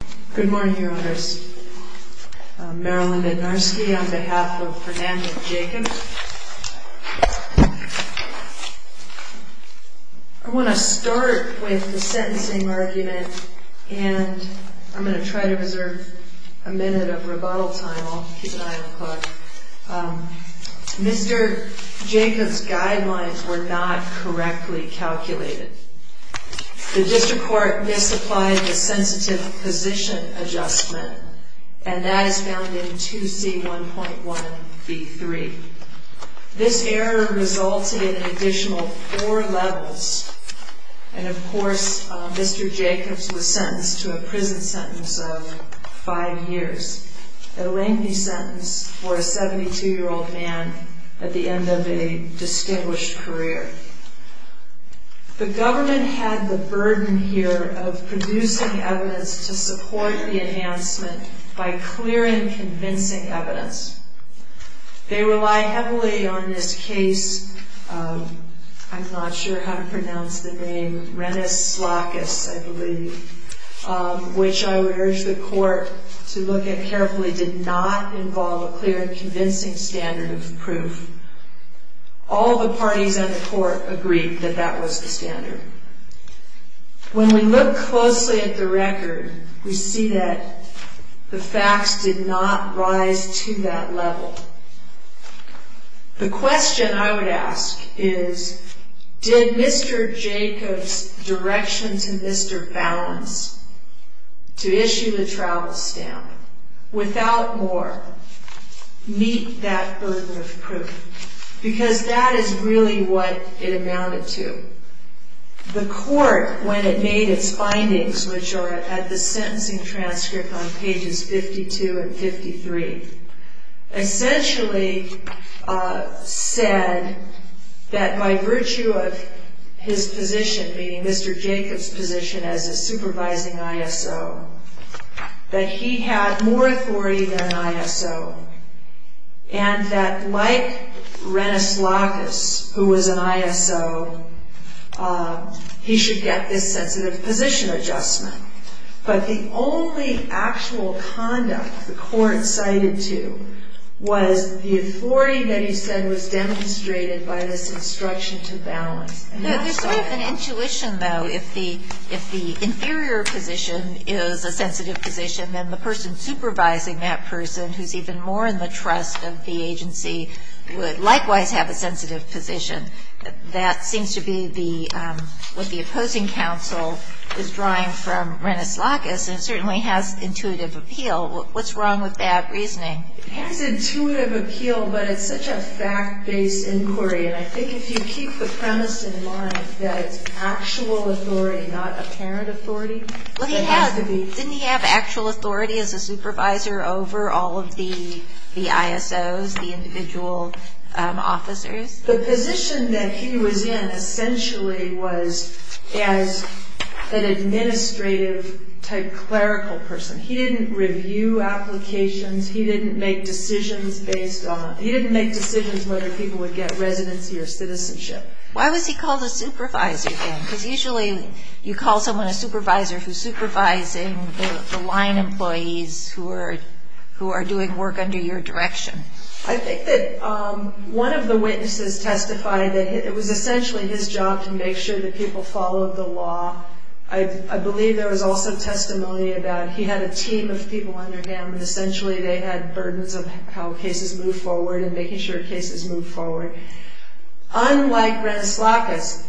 I want to start with the sentencing argument and I'm going to try to reserve a minute of rebuttal time, I'll keep an eye on the clock. Mr. Jacobs' guidelines were not correctly calculated. The district court misapplied the sensitive position adjustment and that is found in 2C1.1b3. This error resulted in an additional 4 levels and of course Mr. Jacobs was sentenced to a prison sentence of 5 years, a lengthy sentence for a 72 year old man at the end of a distinguished career. The government had the burden here of producing evidence to support the enhancement by clearing convincing evidence. They rely heavily on this case, I'm not sure how to pronounce the name, Rennes-Slakis I believe, which I would urge the court to look at carefully did not involve a clear and convincing standard of proof. All the parties on the court agreed that that was the standard. When we look closely at the record we see that the facts did not rise to that level. The question I would ask is did Mr. Jacobs' direction to Mr. Ballance to issue the travel stamp without more meet that burden of proof because that is really what it amounted to. The court when it made its findings which are at the sentencing transcript on pages 52 and 53 essentially said that by virtue of his position being Mr. Jacobs' position as a supervising ISO that he had more authority than an ISO. And that like Rennes-Slakis who was an ISO he should get this sensitive position adjustment. But the only actual conduct the court cited to was the authority that he said was demonstrated by this instruction to Ballance. There's sort of an intuition though if the inferior position is a sensitive position then the person supervising that person who is even more in the trust of the agency would likewise have a sensitive position. That seems to be what the opposing counsel is drawing from Rennes-Slakis and certainly has intuitive appeal. What's wrong with that reasoning? It has intuitive appeal but it's such a fact based inquiry and I think if you keep the premise in mind that it's actual authority not apparent authority. Didn't he have actual authority as a supervisor over all of the ISOs, the individual officers? The position that he was in essentially was as an administrative type clerical person. He didn't review applications, he didn't make decisions whether people would get residency or citizenship. Why was he called a supervisor then? Because usually you call someone a supervisor who is supervising the line employees who are doing work under your direction. I think that one of the witnesses testified that it was essentially his job to make sure that people followed the law. I believe there was also testimony about he had a team of people under him and essentially they had burdens of how cases moved forward and making sure cases moved forward. Unlike Rennes-Slakis,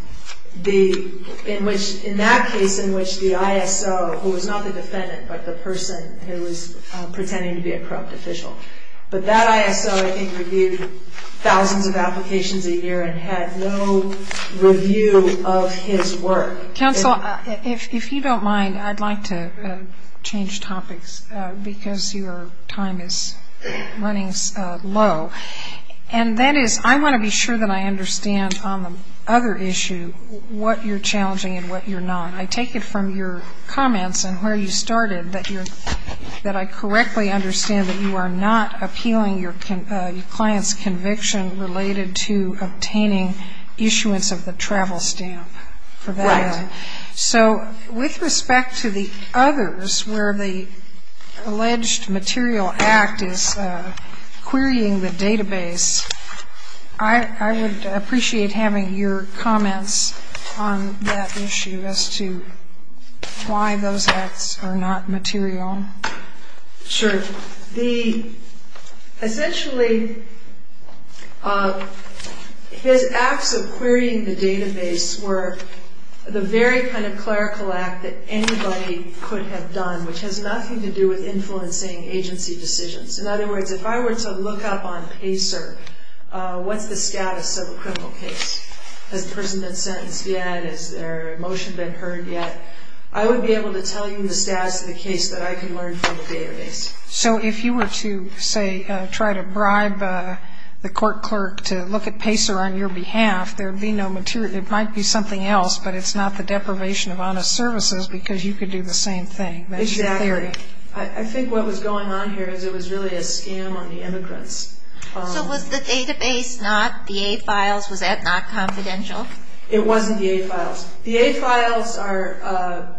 in that case in which the ISO, who was not the defendant but the person who was pretending to be a corrupt official, but that ISO I think reviewed thousands of applications a year and had no review of his work. Counsel, if you don't mind, I'd like to change topics because your time is running low. And that is I want to be sure that I understand on the other issue what you're challenging and what you're not. I take it from your comments and where you started that I correctly understand that you are not appealing your client's conviction related to obtaining issuance of the travel stamp. Right. So with respect to the others where the alleged material act is querying the database, I would appreciate having your comments on that issue as to why those acts are not material. Sure. Essentially, his acts of querying the database were the very kind of clerical act that anybody could have done, which has nothing to do with influencing agency decisions. In other words, if I were to look up on PACER, what's the status of a criminal case? Has the person been sentenced yet? Has their motion been heard yet? I would be able to tell you the status of the case that I can learn from the database. So if you were to, say, try to bribe the court clerk to look at PACER on your behalf, there would be no material. It might be something else, but it's not the deprivation of honest services because you could do the same thing. Exactly. I think what was going on here is it was really a scam on the immigrants. So was the database not the A files? Was that not confidential? It wasn't the A files. The A files are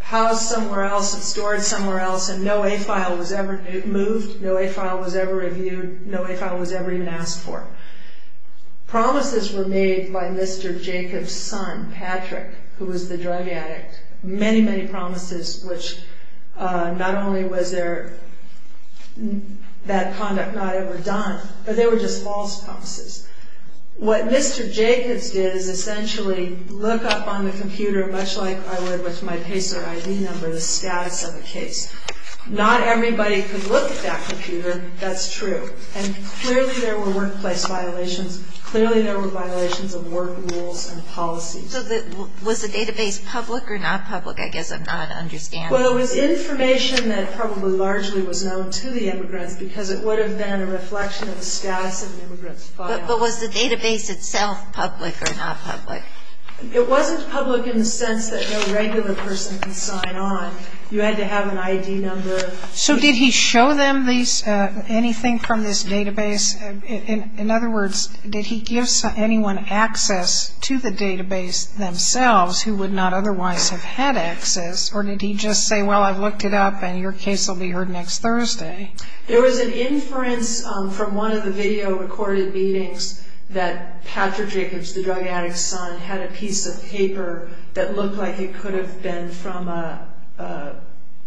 housed somewhere else, stored somewhere else, and no A file was ever moved, no A file was ever reviewed, no A file was ever even asked for. Promises were made by Mr. Jacob's son, Patrick, who was the drug addict. Many, many promises, which not only was that conduct not ever done, but they were just false promises. What Mr. Jacob's did is essentially look up on the computer, much like I would with my PACER ID number, the status of the case. Not everybody could look at that computer. That's true. And clearly there were workplace violations. Clearly there were violations of work rules and policies. So was the database public or not public? I guess I'm not understanding. Well, it was information that probably largely was known to the immigrants because it would have been a reflection of the status of an immigrant's file. But was the database itself public or not public? It wasn't public in the sense that no regular person could sign on. You had to have an ID number. So did he show them anything from this database? In other words, did he give anyone access to the database themselves who would not otherwise have had access, or did he just say, well, I've looked it up and your case will be heard next Thursday? There was an inference from one of the video recorded meetings that Patrick Jacobs, the drug addict's son, had a piece of paper that looked like it could have been from an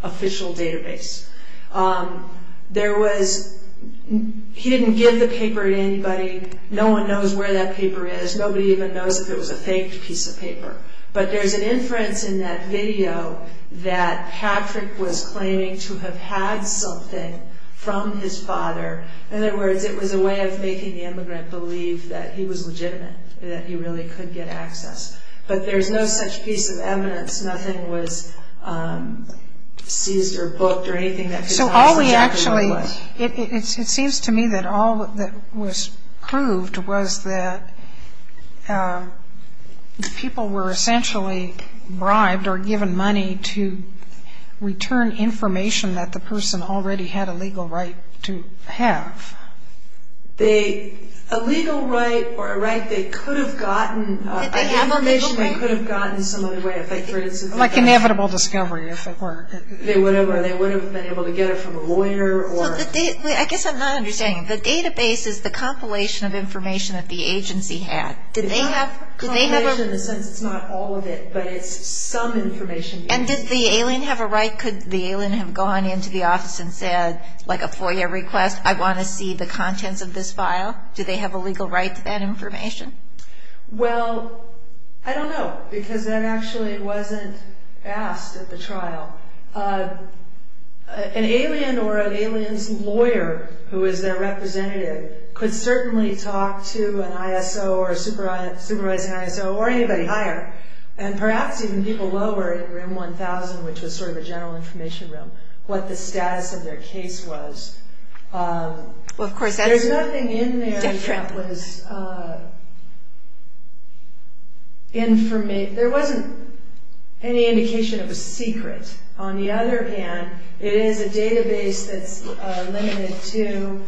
official database. He didn't give the paper to anybody. No one knows where that paper is. Nobody even knows if it was a faked piece of paper. But there's an inference in that video that Patrick was claiming to have had something from his father. In other words, it was a way of making the immigrant believe that he was legitimate, that he really could get access. But there's no such piece of evidence. Nothing was seized or booked or anything that could tell us exactly what it was. It seems to me that all that was proved was that people were essentially bribed or given money to return information that the person already had a legal right to have. A legal right or a right they could have gotten, information they could have gotten some other way. Like inevitable discovery, if it were. They would have been able to get it from a lawyer. I guess I'm not understanding. The database is the compilation of information that the agency had. It's not a compilation in the sense that it's not all of it, but it's some information. And did the alien have a right? Could the alien have gone into the office and said, like a FOIA request, I want to see the contents of this file? Do they have a legal right to that information? Well, I don't know. Because that actually wasn't asked at the trial. An alien or an alien's lawyer, who is their representative, could certainly talk to an ISO or a supervising ISO or anybody higher. And perhaps even people lower, in Room 1000, which was sort of a general information room, what the status of their case was. There's nothing in there that was... There wasn't any indication it was secret. On the other hand, it is a database that's limited to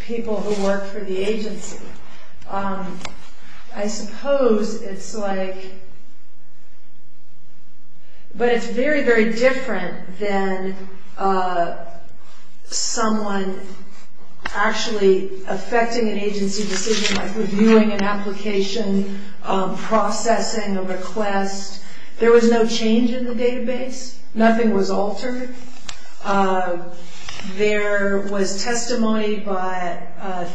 people who work for the agency. I suppose it's like... But it's very, very different than someone actually affecting an agency decision, like reviewing an application, processing a request. There was no change in the database. Nothing was altered. There was testimony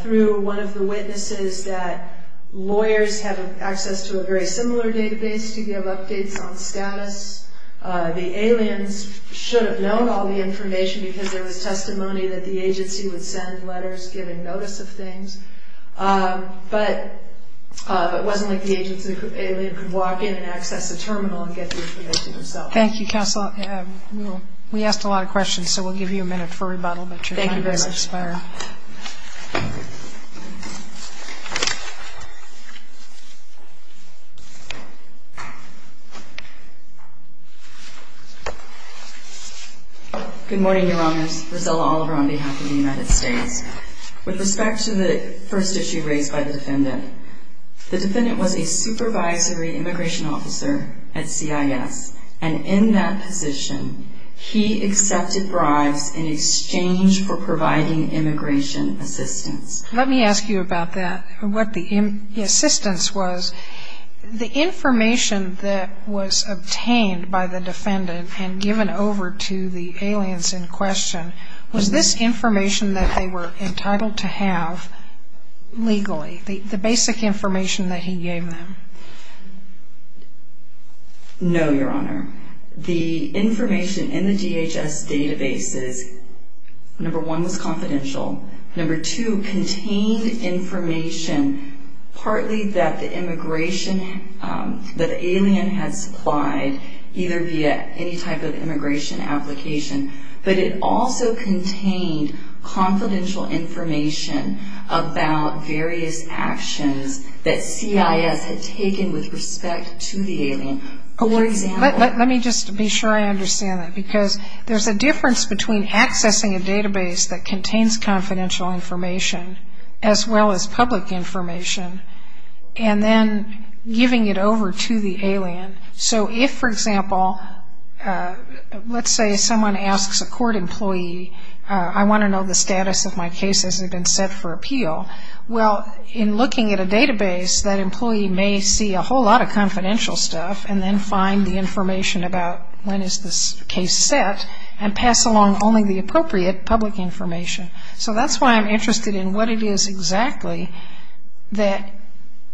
through one of the witnesses that lawyers have access to a very similar database to give updates on status. The aliens should have known all the information because there was testimony that the agency would send letters giving notice of things. But it wasn't like the alien could walk in and access a terminal and get the information themselves. Thank you, Counselor. We asked a lot of questions, so we'll give you a minute for rebuttal. Thank you very much. Thank you. Good morning, Your Honors. Rosella Oliver on behalf of the United States. With respect to the first issue raised by the defendant, the defendant was a supervisory immigration officer at CIS, and in that position, he accepted bribes in exchange for providing immigration assistance. Let me ask you about that, what the assistance was. The information that was obtained by the defendant and given over to the aliens in question, was this information that they were entitled to have legally, the basic information that he gave them? No, Your Honor. The information in the DHS database is, number one, was confidential. Number two, contained information, partly that the immigration that the alien had supplied, either via any type of immigration application, but it also contained confidential information about various actions that CIS had taken with respect to the alien. Let me just be sure I understand that, because there's a difference between accessing a database that contains confidential information as well as public information, and then giving it over to the alien. So if, for example, let's say someone asks a court employee, I want to know the status of my case as it had been set for appeal. Well, in looking at a database, that employee may see a whole lot of confidential stuff and then find the information about when is this case set, and pass along only the appropriate public information. So that's why I'm interested in what it is exactly that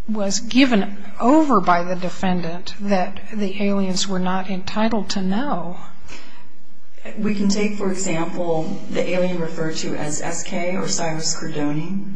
was given over by the defendant that the aliens were not entitled to know. We can take, for example, the alien referred to as S.K. or Cyrus Cordoni.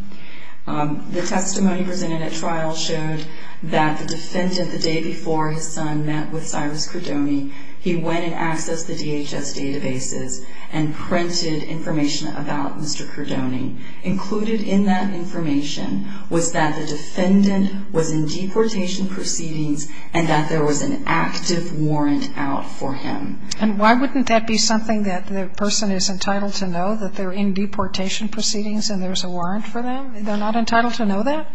The testimony presented at trial showed that the defendant, the day before his son met with Cyrus Cordoni, he went and accessed the DHS databases and printed information about Mr. Cordoni. Included in that information was that the defendant was in deportation proceedings and that there was an active warrant out for him. And why wouldn't that be something that the person is entitled to know, that they're in deportation proceedings and there's a warrant for them? They're not entitled to know that?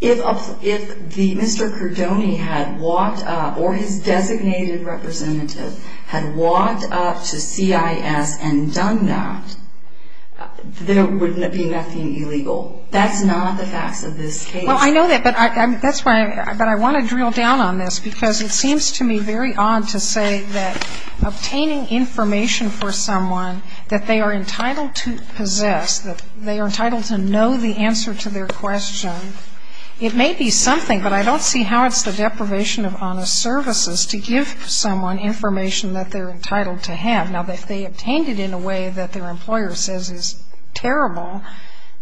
If Mr. Cordoni had walked up or his designated representative had walked up to C.I.S. and done that, there would be nothing illegal. That's not the facts of this case. Well, I know that, but I want to drill down on this because it seems to me very odd to say that obtaining information for someone that they are entitled to possess, that they are entitled to know the answer to their question, it may be something, but I don't see how it's the deprivation of honest services to give someone information that they're entitled to have. Now, if they obtained it in a way that their employer says is terrible,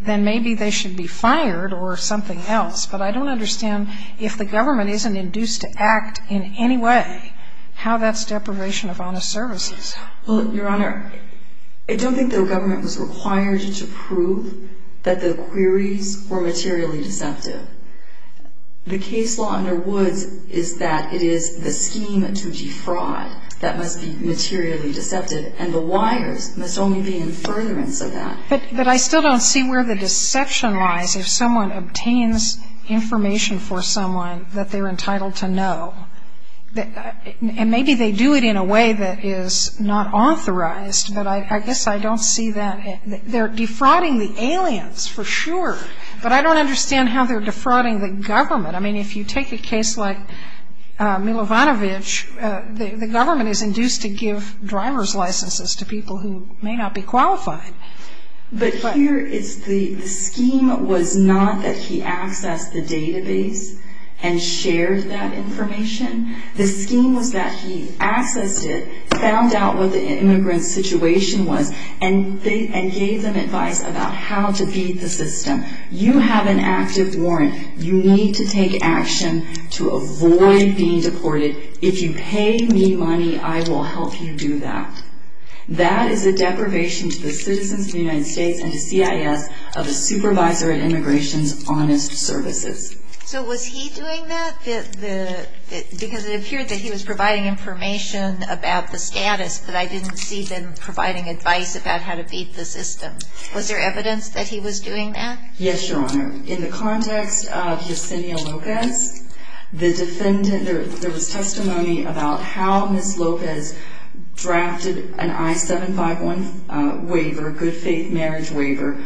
then maybe they should be fired or something else. But I don't understand, if the government isn't induced to act in any way, how that's deprivation of honest services. Well, Your Honor, I don't think the government was required to prove that the queries were materially deceptive. The case law under Woods is that it is the scheme to defraud that must be materially deceptive, and the wires must only be in furtherance of that. But I still don't see where the deception lies if someone obtains information for someone that they're entitled to know. And maybe they do it in a way that is not authorized, but I guess I don't see that. They're defrauding the aliens, for sure, but I don't understand how they're defrauding the government. I mean, if you take a case like Milovanovich, the government is induced to give driver's licenses to people who may not be qualified. But here, the scheme was not that he accessed the database and shared that information. The scheme was that he accessed it, found out what the immigrant's situation was, and gave them advice about how to beat the system. You have an active warrant. You need to take action to avoid being deported. If you pay me money, I will help you do that. That is a deprivation to the citizens of the United States and to CIS of a supervisor at Immigration's honest services. So was he doing that? Because it appeared that he was providing information about the status, but I didn't see them providing advice about how to beat the system. Was there evidence that he was doing that? Yes, Your Honor. In the context of Yesenia Lopez, the defendant, there was testimony about how Ms. Lopez drafted an I-751 waiver, good faith marriage waiver.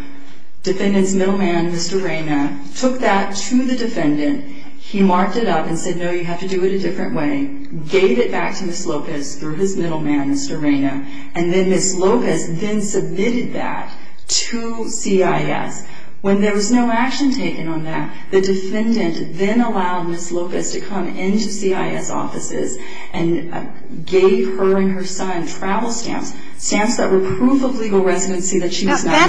Defendant's middleman, Mr. Reyna, took that to the defendant. He marked it up and said, no, you have to do it a different way, gave it back to Ms. Lopez through his middleman, Mr. Reyna, and then Ms. Lopez then submitted that to CIS. When there was no action taken on that, the defendant then allowed Ms. Lopez to come into CIS offices and gave her and her son travel stamps, stamps that were proof of legal residency that she was not entitled to.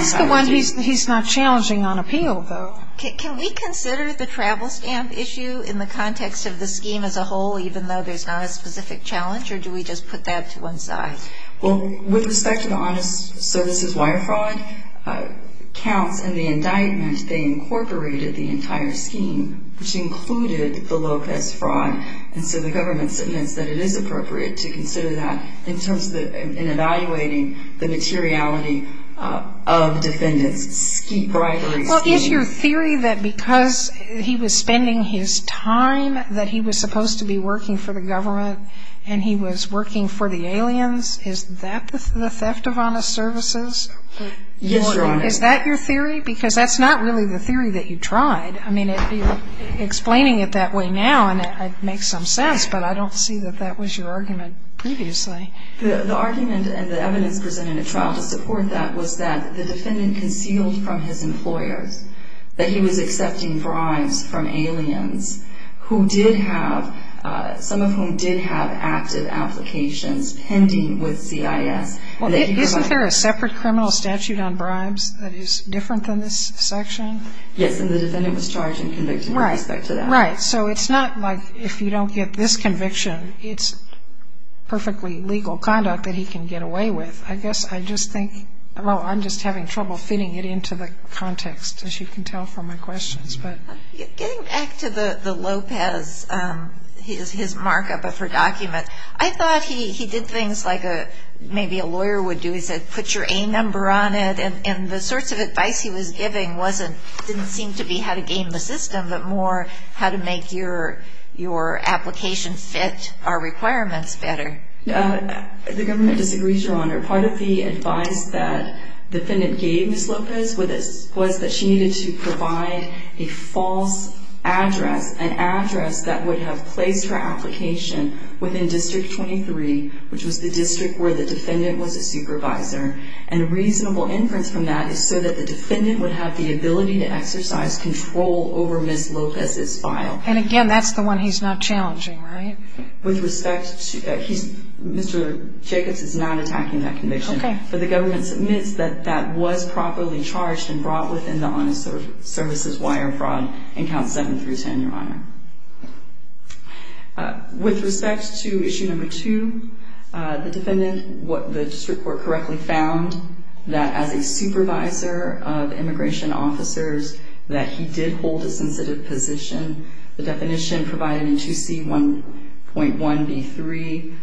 That's the one he's not challenging on appeal, though. Can we consider the travel stamp issue in the context of the scheme as a whole, even though there's not a specific challenge, or do we just put that to one side? With respect to the honest services wire fraud counts in the indictment, they incorporated the entire scheme, which included the Lopez fraud, and so the government submits that it is appropriate to consider that in evaluating the materiality of the defendant's bribery scheme. Is your theory that because he was spending his time, that he was supposed to be working for the government and he was working for the aliens, is that the theft of honest services? Yes, Your Honor. Is that your theory? Because that's not really the theory that you tried. I mean, you're explaining it that way now, and it makes some sense, but I don't see that that was your argument previously. The argument and the evidence presented in the trial to support that was that the defendant concealed from his employers that he was accepting bribes from aliens who did have, some of whom did have active applications pending with CIS. Isn't there a separate criminal statute on bribes that is different than this section? Yes, and the defendant was charged and convicted with respect to that. Right, so it's not like if you don't get this conviction, it's perfectly legal conduct that he can get away with. I guess I just think, well, I'm just having trouble fitting it into the context, as you can tell from my questions. Getting back to the Lopez, his markup of her document, I thought he did things like maybe a lawyer would do. He said, put your A number on it, and the sorts of advice he was giving didn't seem to be how to game the system, but more how to make your application fit our requirements better. The government disagrees, Your Honor. Part of the advice that the defendant gave Ms. Lopez was that she needed to provide a false address, an address that would have placed her application within District 23, which was the district where the defendant was a supervisor, and reasonable inference from that is so that the defendant would have the ability to exercise control over Ms. Lopez's file. And, again, that's the one he's not challenging, right? With respect to that, Mr. Jacobs is not attacking that conviction, but the government submits that that was properly charged and brought within the honest services wire fraud in Count 7 through 10, Your Honor. With respect to issue number 2, the defendant, what the district court correctly found, that as a supervisor of immigration officers, that he did hold a sensitive position. The definition provided in 2C1.1b3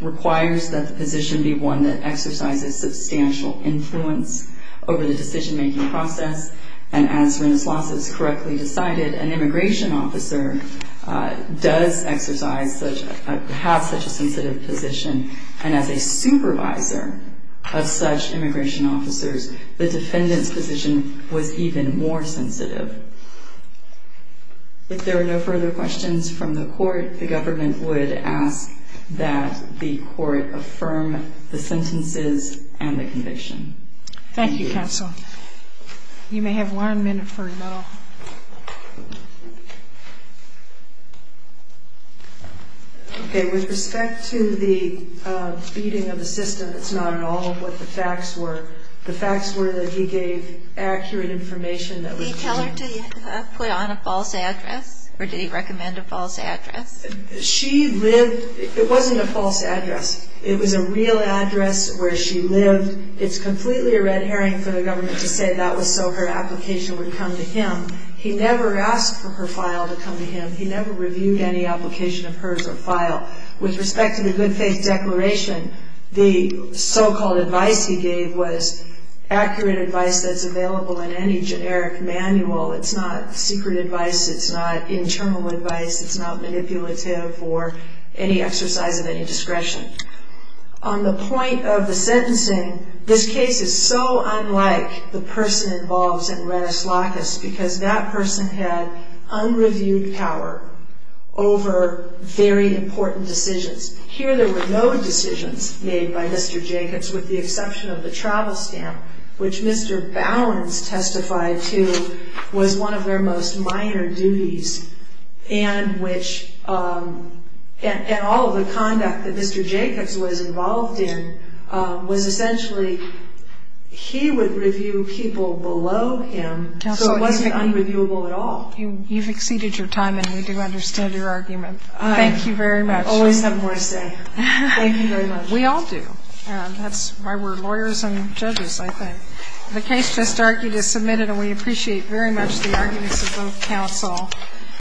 requires that the position be one that exercises substantial influence over the decision-making process, and as Serena Slaza correctly decided, an immigration officer does exercise such, have such a sensitive position, and as a supervisor of such immigration officers, the defendant's position was even more sensitive. If there are no further questions from the court, the government would ask that the court affirm the sentences and the conviction. Thank you, counsel. You may have one minute for rebuttal. Okay, with respect to the beating of the system, it's not at all what the facts were. The facts were that he gave accurate information that was true. Did he tell her to put on a false address, or did he recommend a false address? She lived, it wasn't a false address. It was a real address where she lived. It's completely a red herring for the government to say that was so her application would come to him. He never asked for her file to come to him. He never reviewed any application of hers or file. With respect to the good faith declaration, the so-called advice he gave was accurate advice that's available in any generic manual. It's not secret advice. It's not internal advice. It's not manipulative or any exercise of any discretion. On the point of the sentencing, this case is so unlike the person involved in Redis Lacus because that person had unreviewed power over very important decisions. Here there were no decisions made by Mr. Jacobs with the exception of the travel stamp, which Mr. Bowens testified to was one of their most important duties, and all of the conduct that Mr. Jacobs was involved in was essentially he would review people below him, so it wasn't unreviewable at all. You've exceeded your time, and we do understand your argument. Thank you very much. I always have more to say. Thank you very much. We all do. That's why we're lawyers and judges, I think. The case just argued is submitted, and we appreciate very much the arguments of both counsel.